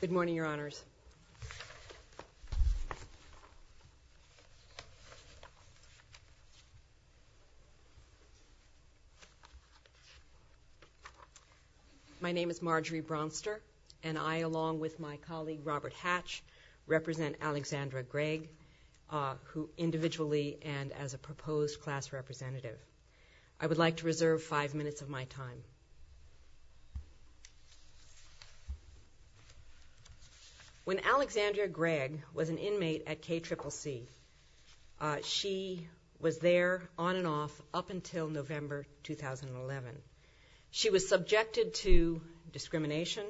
Good morning, Your Honors. My name is Marjorie Bronster, and I, along with my colleague Robert Hatch, represent Alexandra Gregg, who individually and as a proposed class representative. I would like to reserve five minutes of my time. When Alexandra Gregg was an inmate at KCCC, she was there on and off up until November 2011. She was subjected to discrimination,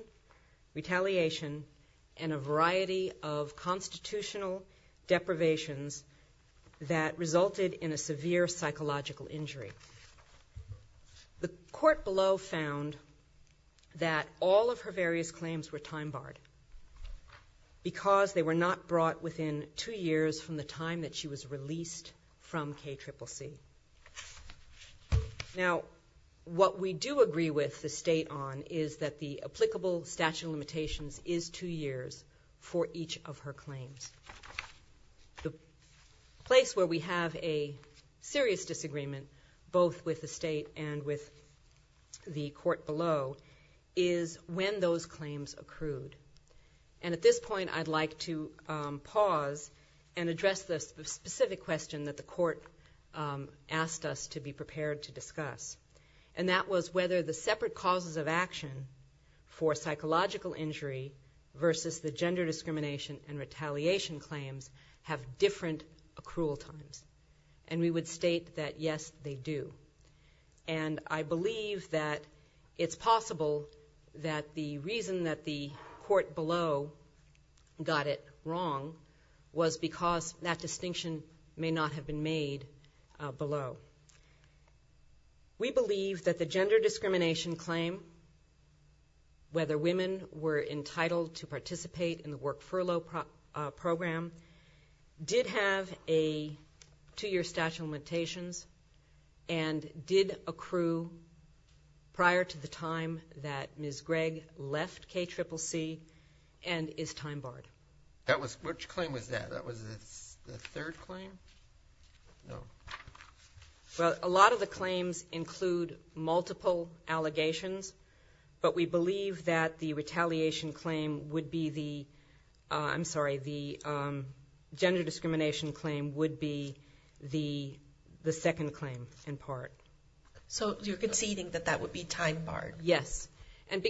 retaliation, and a variety of constitutional deprivations that resulted in a severe psychological injury. The court below found that all of her various claims were time-barred because they were not brought within two years from the time that she was released from KCCC. Now, what we do agree with the State on is that the applicable statute of limitations is two years for each of her claims. The place where we have a serious disagreement, both with the State and with the court below, is when those claims accrued. And at this point I'd like to pause and address the specific question that the court asked us to be prepared to discuss, and that was whether the separate causes of action for psychological injury versus the gender discrimination and retaliation claims have different accrual times. And we would state that, yes, they do. And I believe that it's possible that the reason that the court below got it wrong was because that distinction may not have been made below. We believe that the gender discrimination claim, whether women were entitled to participate in the work furlough process, did have a two-year statute of limitations and did accrue prior to the time that Ms. Gregg left KCCC and is time-barred. Which claim was that? That was the third claim? No. Well, a lot of the claims include multiple allegations, but we believe that the gender discrimination claim would be the second claim in part. So you're conceding that that would be time-barred? Yes. And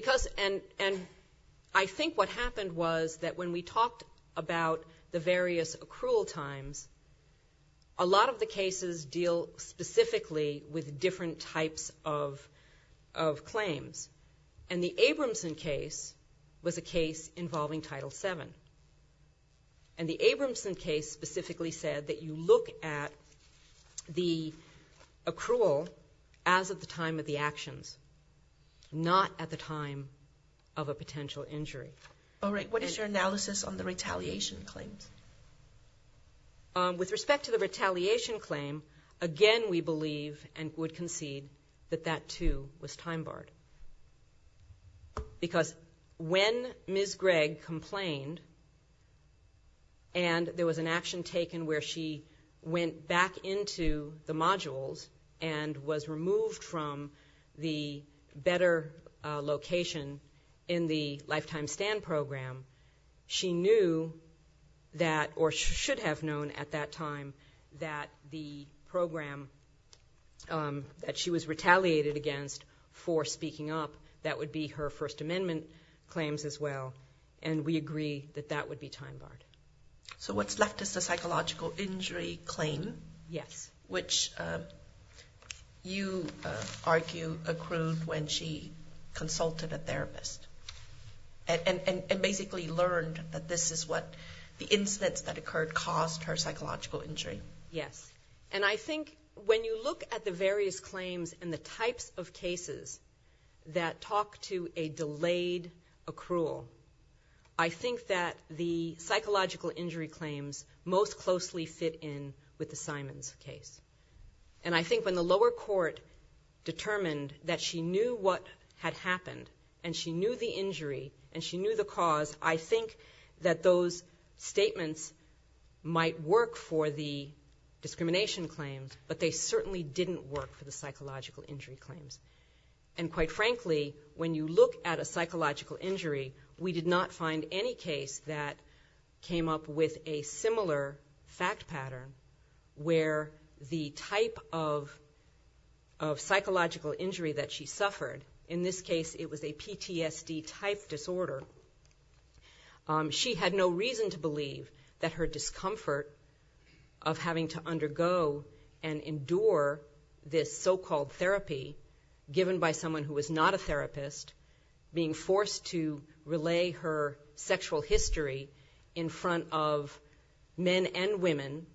I think what happened was that when we talked about the various accrual times, a lot of the cases deal specifically with different types of claims. And the Abramson case was a case involving Title VII. And the Abramson case specifically said that you look at the accrual as at the time of the actions, not at the time of a potential injury. All right. What is your analysis on the retaliation claims? With respect to the retaliation claim, again, we believe and would concede that that, too, was time-barred. Because when Ms. Gregg complained and there was an action taken where she went back into the modules and was removed from the better location in the lifetime standards, and program, she knew that, or should have known at that time, that the program that she was retaliated against for speaking up, that would be her First Amendment claims as well. And we agree that that would be time-barred. So what's left is the psychological injury claim. Yes. Which you argue accrued when she consulted a therapist and basically learned that this is what the incidents that occurred caused her psychological injury. Yes. And I think when you look at the various claims and the types of cases that talk to a delayed accrual, I think that the psychological injury claims most closely fit in with the Simons case. And I think when the lower court determined that she knew what had happened and she knew the injury and she knew the cause, I think that those statements might work for the discrimination claims, but they certainly didn't work for the psychological injury claims. And quite frankly, when you look at a psychological injury, we did not find any case that came up with a similar fact pattern where the type of psychological injury that she suffered, in this case it was a PTSD-type disorder, she had no reason to believe that her discomfort of having to undergo and endure this so-called therapy given by someone who was not a therapist, being forced to relay her sexual history in front of men and women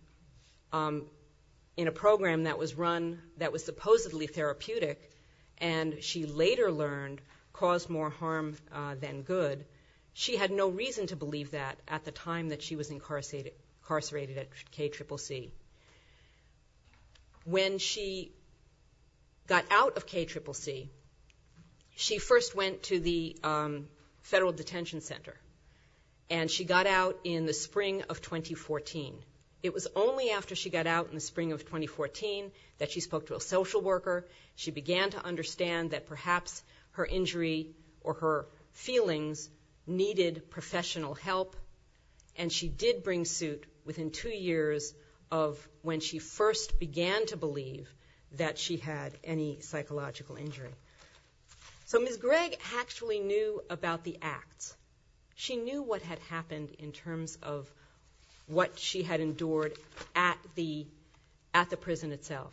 in a program that was run, that was supposedly therapeutic, and she later learned caused more harm than good, she had no reason to believe that at the time that she was incarcerated at KCCC. When she got out of KCCC, she first went to the federal detention center, and she got out in the spring of 2014. It was only after she got out in the spring of 2014 that she spoke to a social worker, she began to understand that perhaps her injury or her feelings needed professional help, and she did bring suit within two years of when she first began to believe that she had any psychological injury. So Ms. Gregg actually knew about the acts. She knew what had happened in terms of what she had endured at the prison itself,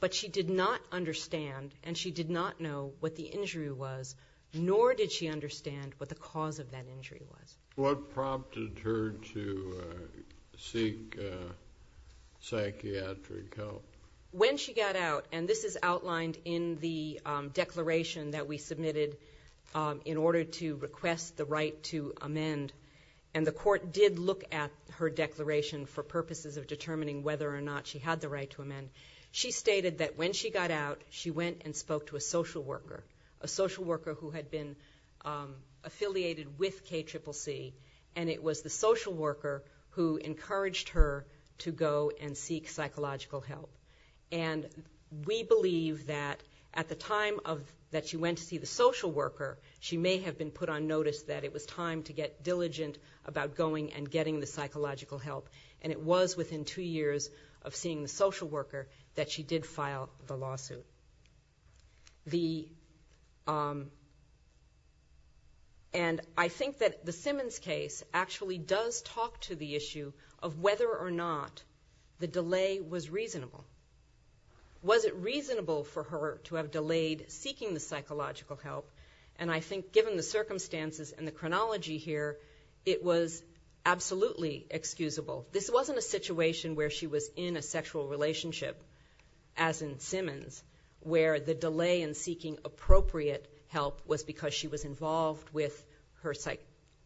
but she did not understand, and she did not know what the injury was, nor did she understand what the cause of that injury was. When she got out, and this is outlined in the declaration that we submitted in order to request the right to amend, and the court did look at her declaration for purposes of determining whether or not she had the right to amend, she stated that when she got out, she went and spoke to a social worker, a social worker who had been affiliated with KCCC, and it was the social worker who encouraged her to go and seek psychological help. And we believe that at the time that she went to see the social worker, she may have been put on notice that it was time to get diligent about going and getting the psychological help, and it was within two years of seeing the social worker that she did file the lawsuit. And I think that the Simmons case actually does talk to the issue of whether or not the delay was reasonable. Was it reasonable for her to have delayed seeking the psychological help? And I think given the circumstances and the chronology here, it was absolutely excusable. This wasn't a situation where she was in a sexual relationship, as in Simmons, where the delay in seeking appropriate help was because she was involved with her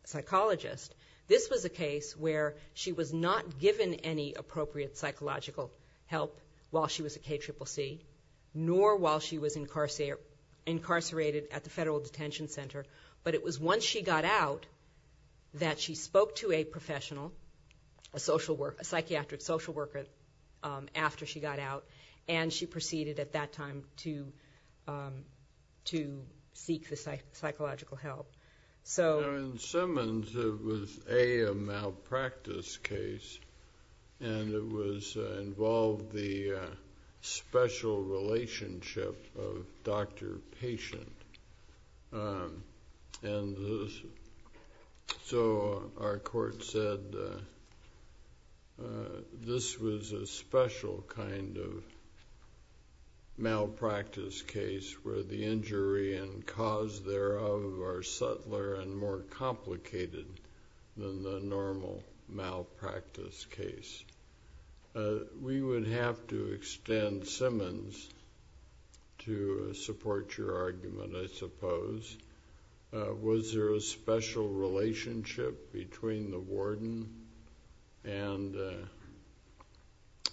psychologist. This was a case where she was not given any appropriate psychological help while she was at KCCC, nor while she was incarcerated at the Federal Detention Center, but it was once she got out that she spoke to a professional, a psychiatric social worker after she got out, and she proceeded at that time to seek the psychological help. In Simmons, it was, A, a malpractice case, and it involved the special relationship of doctor-patient. So our court said this was a special kind of malpractice case where the injury and cause thereof are subtler and more complicated than the normal malpractice case. We would have to extend Simmons to support your argument, I suppose. Was there a special relationship between the warden and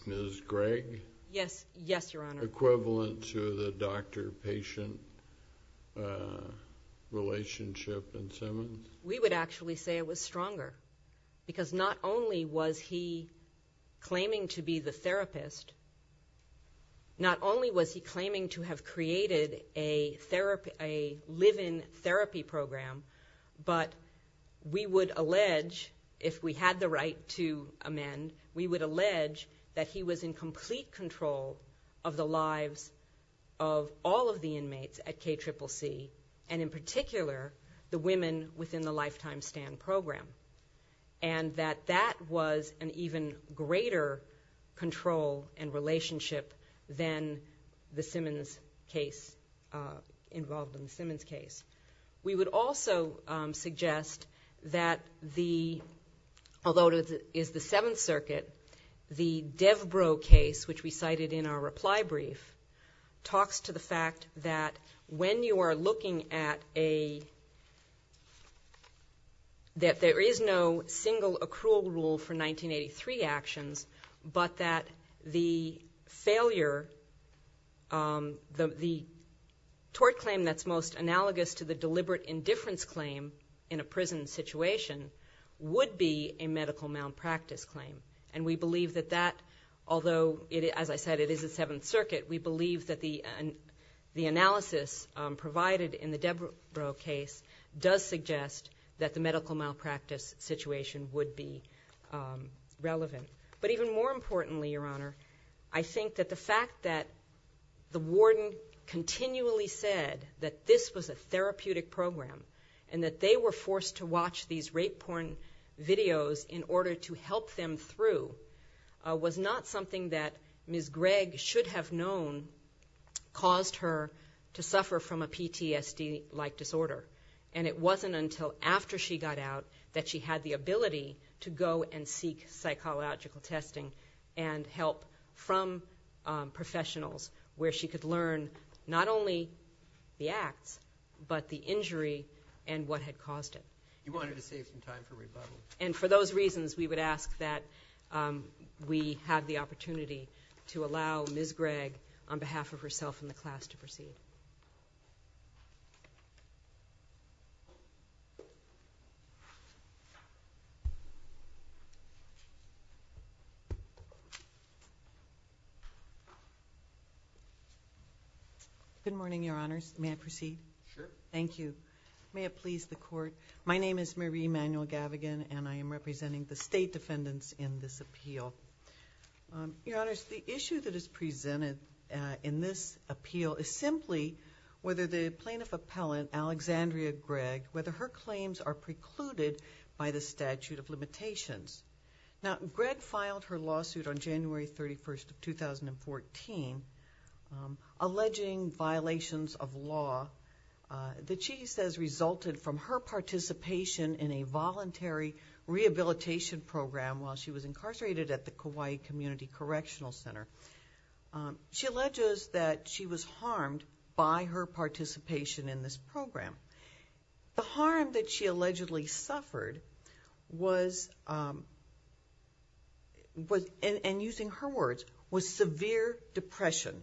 Ms. Gregg? Yes. Yes, Your Honor. Equivalent to the doctor-patient relationship in Simmons? We would actually say it was stronger, because not only was he claiming to be the therapist, not only was he claiming to have created a live-in therapy program, but we would allege, if we had the right to amend, we would allege that he was in complete control of the lives of all of the inmates at KCCC, and in particular, the women within the Lifetime Stand program, and that that was an even greater control and relationship than the Simmons case, involved in the Simmons case. We would also suggest that the, although it is the Seventh Circuit, the Devbro case, which we cited in our reply brief, talks to the fact that when you are looking at a, that there is no single accrual rule for 1983 actions, but that the failure, the tort claim that's most analogous to the deliberate indifference claim in a prison situation would be a medical malpractice claim. And we believe that that, although, as I said, it is the Seventh Circuit, we believe that the analysis provided in the Devbro case does suggest that the medical malpractice situation would be relevant. But even more importantly, Your Honor, I think that the fact that the warden continually said that this was a therapeutic program and that they were forced to watch these rape porn videos in order to help them through was not something that Ms. Gregg should have known caused her to suffer from a PTSD-like disorder. And it wasn't until after she got out that she had the ability to go and seek psychological testing and help from professionals where she could learn not only the acts, but the injury and what had caused it. And for those reasons, we would ask that we have the opportunity to allow Ms. Gregg on behalf of herself and the class to proceed. Good morning, Your Honors. May I proceed? Thank you. May it please the Court. My name is Marie Manuel-Gavigan, and I am representing the State Defendants in this appeal. Your Honors, the issue that is presented in this appeal is simply whether the plaintiff appellant, Alexandria Gregg, whether her claims are precluded by the statute of limitations. Now, Gregg filed her lawsuit on January 31, 2014, alleging violations of law that she says resulted from her participation in a voluntary rehabilitation program while she was incarcerated at the Kauai Community Correctional Center. She alleges that she was harmed by her participation in this program. The harm that she allegedly suffered was, and using her words, was severe depression,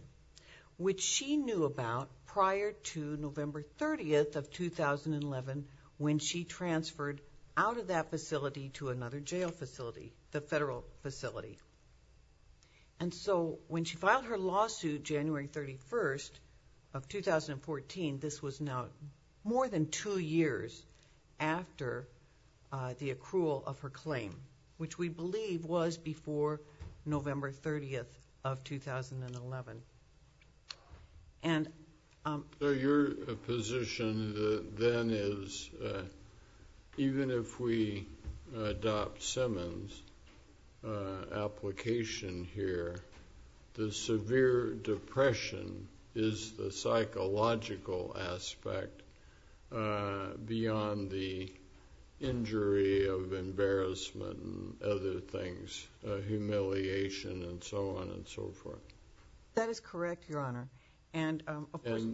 which she knew about prior to November 30 of 2011 when she transferred out of that facility to another jail facility, the federal facility. And so when she filed her lawsuit January 31 of 2014, this was now more than two years after the accrual of her claim, which we believe was before November 30 of 2011. So your position then is even if we adopt Simmons' application here, the severe depression is the psychological aspect beyond the injury of embarrassment and other things, humiliation and so on and so forth. That is correct, Your Honor. And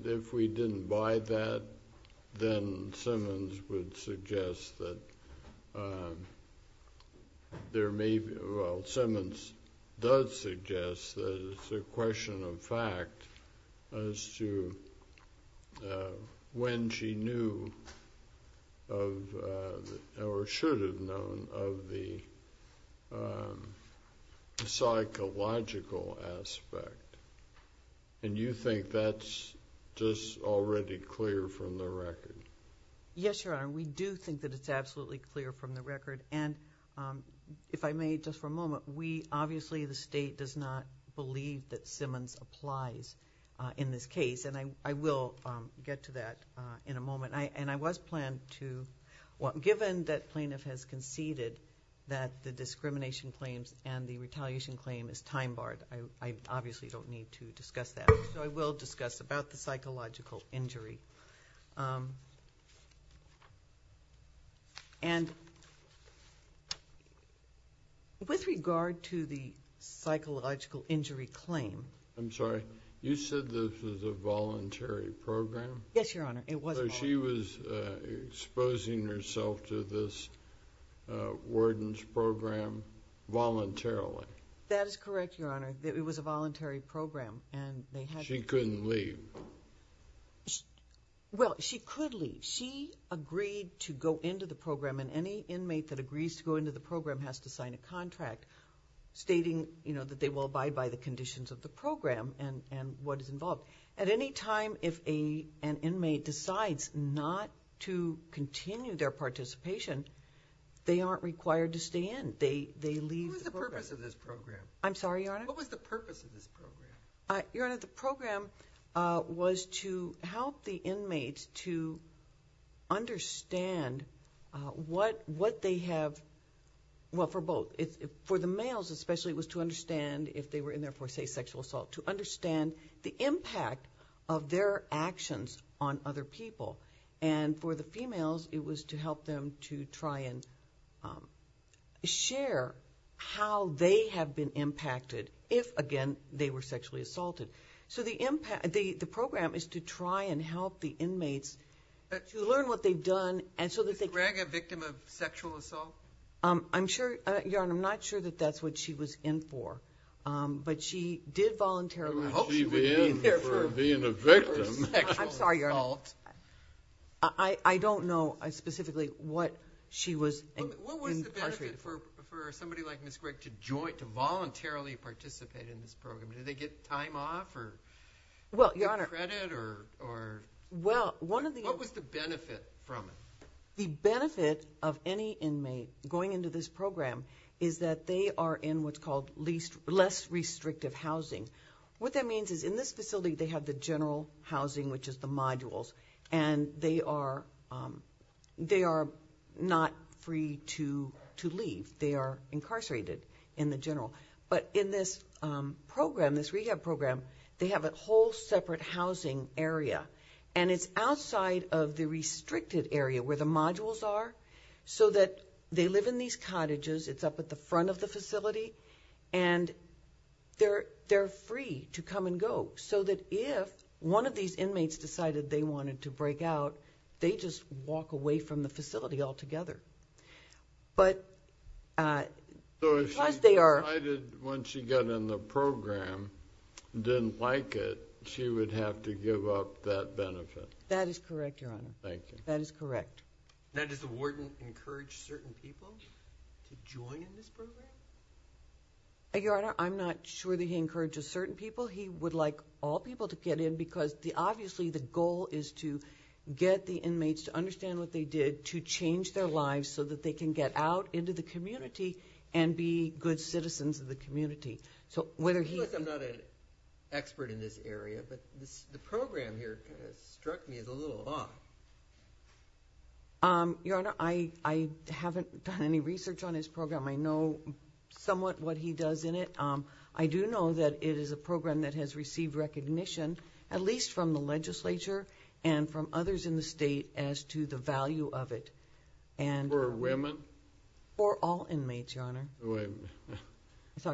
if we didn't buy that, then Simmons would suggest that there may be... Well, Simmons does suggest that it's a question of fact as to when she knew or should have known of the psychological aspect. And you think that's just already clear from the record? Yes, Your Honor. We do think that it's absolutely clear from the record. And if I may, just for a moment, obviously the state does not believe that Simmons applies in this case. And I will get to that in a moment. Given that plaintiff has conceded that the discrimination claims and the retaliation claim is time-barred, I obviously don't need to discuss that. So I will discuss about the psychological injury. With regard to the psychological injury claim... I'm sorry. You said this was a voluntary program? Yes, Your Honor. It was voluntary. So she was exposing herself to this warden's program voluntarily? That is correct, Your Honor. It was a voluntary program. She couldn't leave? Well, she could leave. She agreed to go into the program, and any inmate that agrees to go into the program has to sign a contract stating that they will abide by the conditions of the program and what is involved. At any time if an inmate decides not to continue their participation, they aren't required to stay in. What was the purpose of this program? Your Honor, the program was to help the inmates to understand what they have... well, for both. For the males, especially, it was to understand if they were in there for, say, sexual assault, to understand the impact of their actions on other people. And for the females, it was to help them to try and share how they have been impacted if, again, they were sexually assaulted. So the program is to try and help the inmates to learn what they've done. Was Ms. Gregg a victim of sexual assault? Your Honor, I'm not sure that that's what she was in for, but she did voluntarily... I'm sorry, Your Honor. I don't know specifically what she was incarcerated for. What was the benefit for somebody like Ms. Gregg to voluntarily participate in this program? Did they get time off or get credit? What was the benefit from it? The benefit of any inmate going into this program is that they are in what's called less restrictive housing. What that means is in this facility they have the general housing, which is the modules, and they are not free to leave. They are incarcerated in the general. But in this program, this rehab program, they have a whole separate housing area, and it's outside of the restricted area where the modules are, so that they live in these cottages. It's up at the front of the facility, and they're free to come and go, so that if one of these inmates decided they wanted to break out, they just walk away from the facility altogether. So if she decided when she got in the program and didn't like it, she would have to give up that benefit? That is correct, Your Honor. Does the warden encourage certain people to join in this program? Your Honor, I'm not sure that he encourages certain people. He would like all people to get in, because obviously the goal is to get the inmates to understand what they did, to change their lives so that they can get out into the community and be good citizens of the community. Of course I'm not an expert in this area, but the program here kind of struck me as a little off. Your Honor, I haven't done any research on his program. I know somewhat what he does in it. I do know that it is a program that has received recognition, at least from the legislature and from others in the state, as to the value of it. For women? For all inmates, Your Honor. If a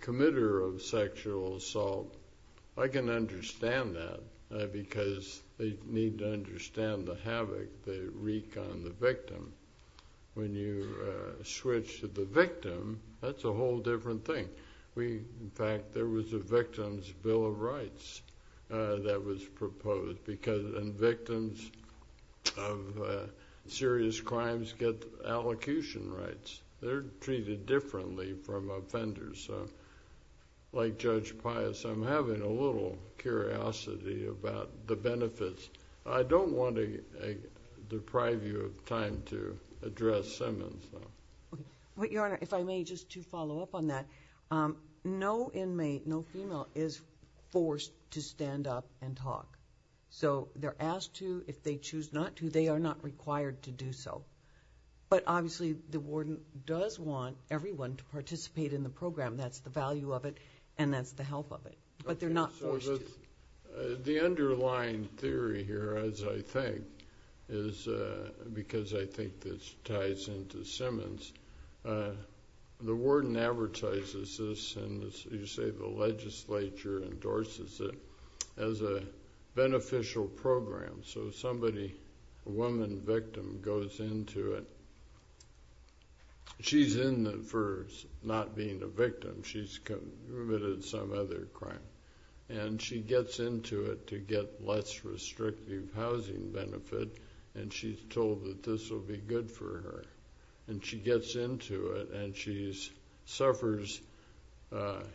committer of sexual assault, I can understand that, because they need to understand the havoc they wreak on the victim. When you switch to the victim, that's a whole different thing. In fact, there was a Victim's Bill of Rights that was proposed. Victims of serious crimes get allocution rights. They're treated differently from offenders. Like Judge Pius, I'm having a little curiosity about the benefits. I don't want to deprive you of time to address Simmons. Your Honor, if I may, just to follow up on that, no inmate, no female, is forced to stand up and talk. They're asked to. If they choose not to, they are not required to do so. But obviously the warden does want everyone to participate in the program. That's the value of it, and that's the help of it. The underlying theory here, as I think, because I think this ties into Simmons, the warden advertises this, and you say the legislature endorses it, as a beneficial program. So somebody, a woman victim, goes into it. She's in it for not being a victim. She's committed some other crime. She gets into it to get less restrictive housing benefit, and she's told that this will be good for her. And she gets into it, and she suffers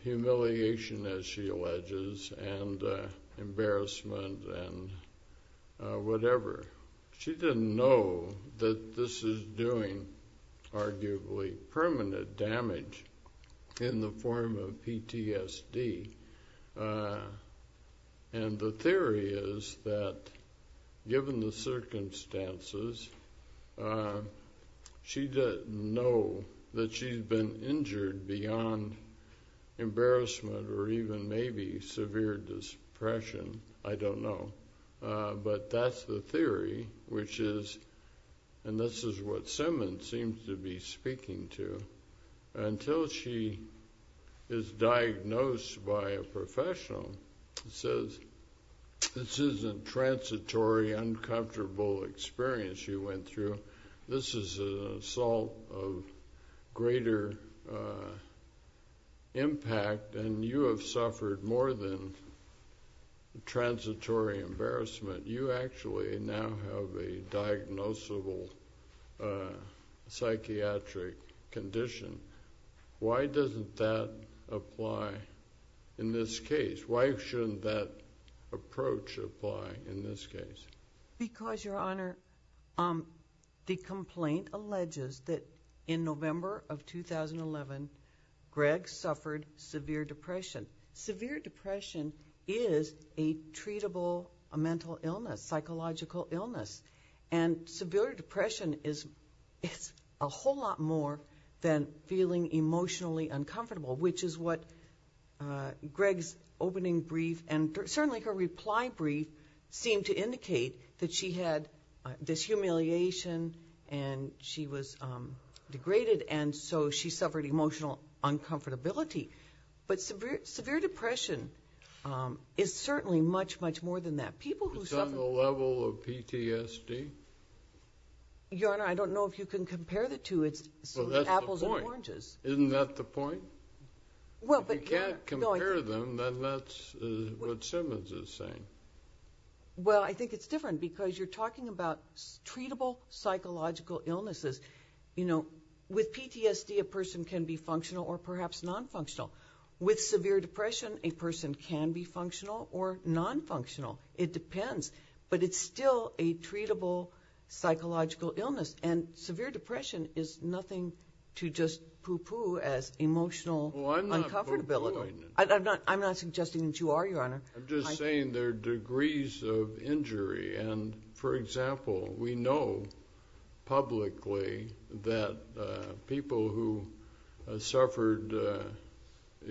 humiliation, as she alleges, and embarrassment and whatever. She didn't know that this is doing arguably permanent damage in the form of PTSD. And the theory is that given the circumstances, she doesn't know that she's been injured beyond embarrassment or even maybe severe depression. I don't know. But that's the theory, which is, and this is what Simmons seems to be speaking to, until she is diagnosed by a professional who says, this isn't transitory, uncomfortable experience you went through. This is an assault of greater impact, and you have suffered more than transitory embarrassment. You actually now have a diagnosable psychiatric condition. Why doesn't that apply in this case? Why shouldn't that approach apply in this case? Because, Your Honor, the complaint alleges that in November of 2011, Greg suffered severe depression. Severe depression is a treatable mental illness, psychological illness. And severe depression is a whole lot more than feeling emotionally uncomfortable, which is what Greg's opening brief, and certainly her reply brief, seemed to indicate that she had dishumiliation, and she was degraded, and so she suffered emotional uncomfortability. But severe depression is certainly much, much more than that. It's on the level of PTSD? Your Honor, I don't know if you can compare the two. It's apples and oranges. Isn't that the point? If you can't compare them, then that's what Simmons is saying. Well, I think it's different, because you're talking about treatable psychological illnesses. With PTSD, a person can be functional or perhaps nonfunctional. With severe depression, a person can be functional or nonfunctional. It depends. But it's still a treatable psychological illness. And severe depression is nothing to just poo-poo as emotional uncomfortability. I'm not suggesting that you are, Your Honor. I'm just saying there are degrees of injury. And, for example, we know publicly that people who suffered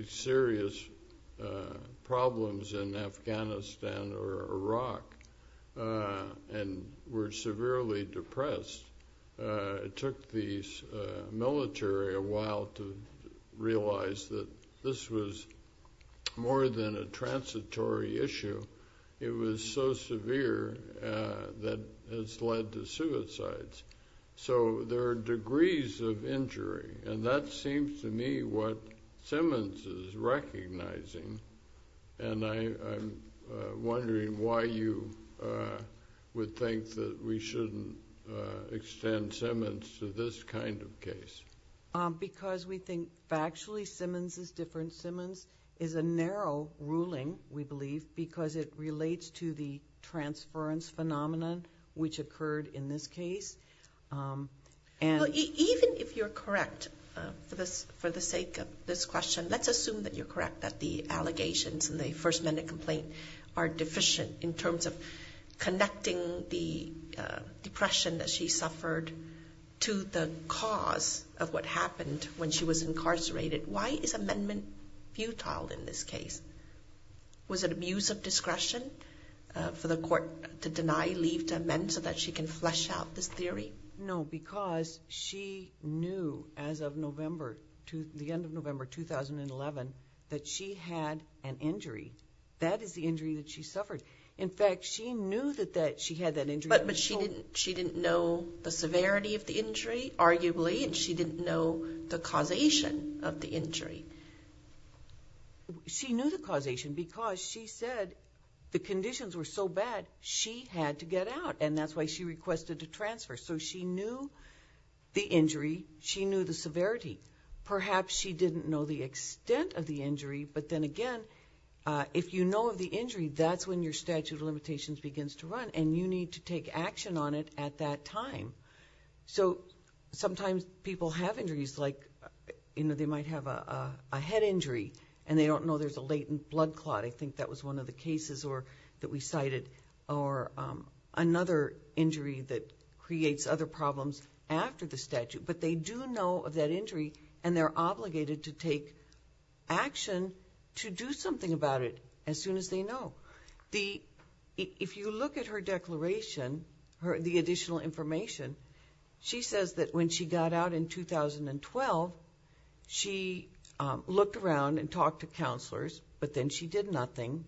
serious problems in Afghanistan or Iraq and were severely depressed, it took the military a while to address the military issue. It was so severe that it's led to suicides. So there are degrees of injury. And that seems to me what Simmons is recognizing. And I'm wondering why you would think that we shouldn't extend Simmons to this kind of case. Because we think factually Simmons is different. Simmons is a narrow ruling, we believe, because it relates to the transference phenomenon which occurred in this case. Even if you're correct for the sake of this question, let's assume that you're correct that the allegations in the first minute complaint are deficient in terms of connecting the depression that she suffered to the cause of what happened when she was incarcerated. Why is amendment futile in this case? Was it abuse of discretion for the court to deny leave to amend so that she can flesh out this theory? No, because she knew as of the end of November 2011 that she had an injury. That is the injury that she suffered. In fact, she knew that she had that injury. But she didn't know the severity of the injury, arguably, and she didn't know the causation of the injury. She knew the causation because she said the conditions were so bad she had to get out. And that's why she requested a transfer. So she knew the injury, she didn't know the extent of the injury, but then again, if you know of the injury, that's when your statute of limitations begins to run, and you need to take action on it at that time. So sometimes people have injuries, like they might have a head injury, and they don't know there's a latent blood clot. I think that was one of the cases that we cited, or another injury that creates other problems after the statute. But they do know of that injury, and they're obligated to take action to do something about it as soon as they know. If you look at her declaration, the additional information, she says that when she got out in 2012, she looked around and talked to counselors, but then she did nothing.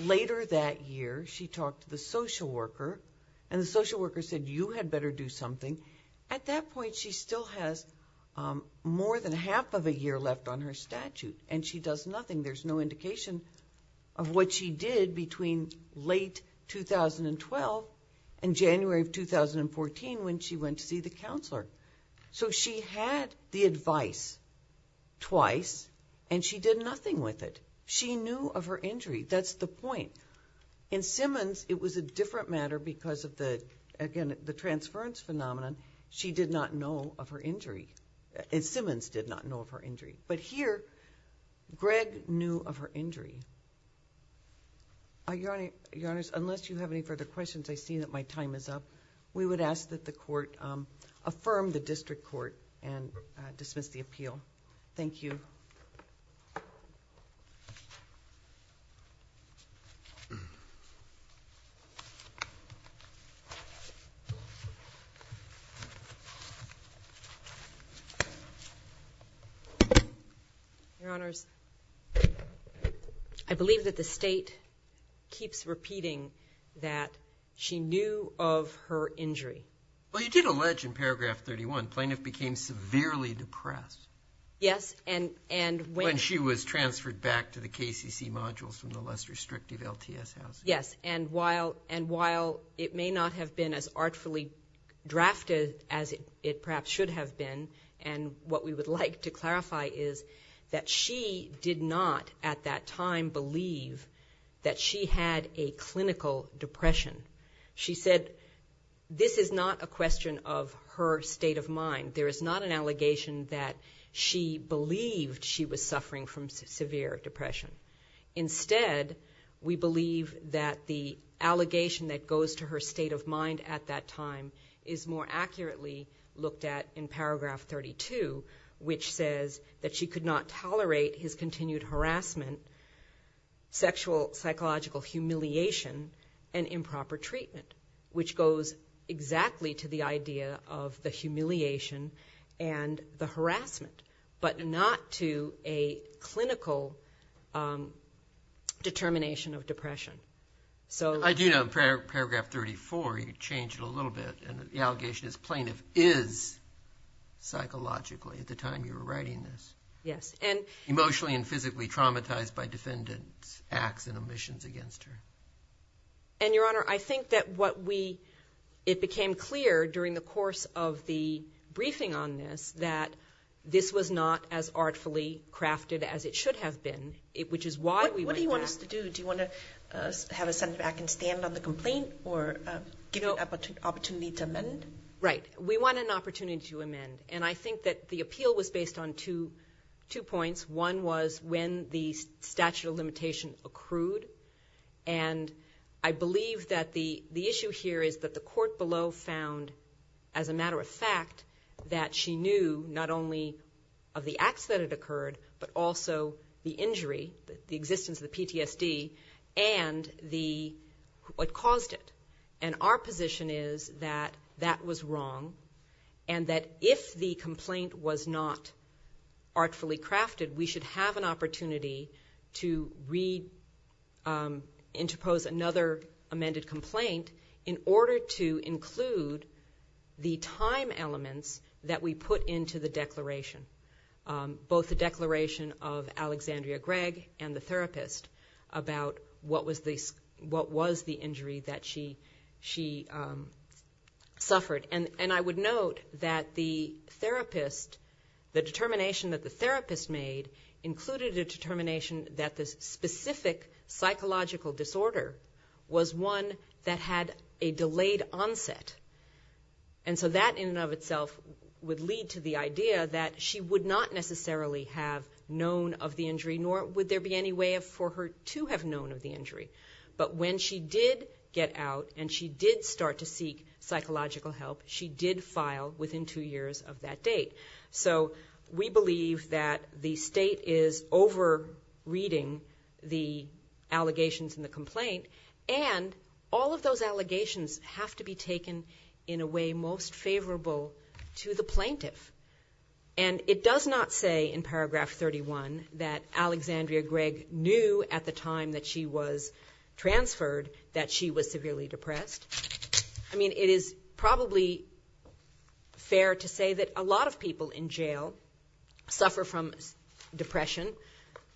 Later that year, she talked to the social worker, and the social worker said you had better do something. At that point, she still has more than half of a year left on her statute, and she does nothing. There's no indication of what she did between late 2012 and January of 2014 when she went to see the counselor. So she had the advice twice, and she did nothing with it. She knew of her injury. That's the point. In Simmons, it was a different matter because of the, again, the transference phenomenon. She did not know of her injury. Simmons did not know of her injury. But here, Greg knew of her injury. Your Honors, unless you have any further questions, I see that my time is up. We would ask that the Court and dismiss the appeal. Thank you. Your Honors, I believe that the State keeps repeating that she knew of her injury. Well, you did allege in paragraph 31, plaintiff became severely depressed. Yes, and when she was transferred back to the KCC modules from the less restrictive LTS housing. Yes, and while it may not have been as artfully drafted as it perhaps should have been, and what we would like to clarify is that she did not at that time believe that she had a depression. There is not a question of her state of mind. There is not an allegation that she believed she was suffering from severe depression. Instead, we believe that the allegation that goes to her state of mind at that time is more accurately looked at in paragraph 32, which says that she could not tolerate his continued harassment, sexual, psychological humiliation, and improper treatment, which goes exactly to the idea of the humiliation and the harassment, but not to a clinical determination of depression. I do know in paragraph 34 you change it a little bit and the allegation is plaintiff is psychologically at the time you were writing this. Yes. Emotionally and physically traumatized by defendant's acts and omissions against her. And, Your Honor, I think that what we, it became clear during the course of the briefing on this that this was not as artfully crafted as it should have been, which is why we went back. What do you want us to do? Do you want to have a Senate back and stand on the complaint or give you an opportunity to amend? Right. We want an opportunity to amend. And I think that the appeal was based on two points. One was when the statute of limitation accrued. And I believe that the issue here is that the court below found, as a matter of fact, that she knew not only of the acts that had occurred, but also the injury, the existence of the PTSD and what caused it. And our position is that that was wrong and that if the complaint was not artfully crafted, we should have an opportunity to reinterpose another amended complaint in order to include the time elements that we put into the declaration, both the declaration of Alexandria Gregg and the therapist about what was the injury that she suffered. And I would note that the therapist, the determination that the therapist made included a determination that this specific psychological disorder was one that had a delayed onset. And so that in and of itself would lead to the idea that she would not necessarily have known of the injury, nor would there be any way for her to have known of the injury. But when she did get out and she did start to seek psychological help, she did file within two years of that date. So we believe that the state is over-reading the allegations in the complaint, and all of those allegations have to be taken in a way most favorable to the plaintiff. And it does not say in paragraph 31 that Alexandria Gregg knew at the time that she was transferred that she was severely depressed. I mean, it is probably fair to say that a lot of people in jail suffer from depression.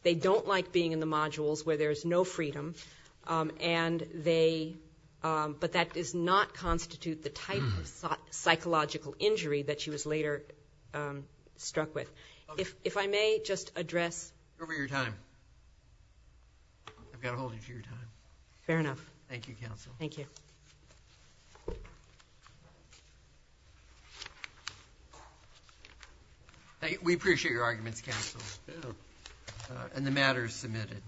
They don't like being in the modules where there is no freedom, and they, but that does not constitute the type of psychological injury that she was later struck with. If I may just address... Fair enough. Thank you, Counsel. We appreciate your arguments, Counsel, and the matter is submitted.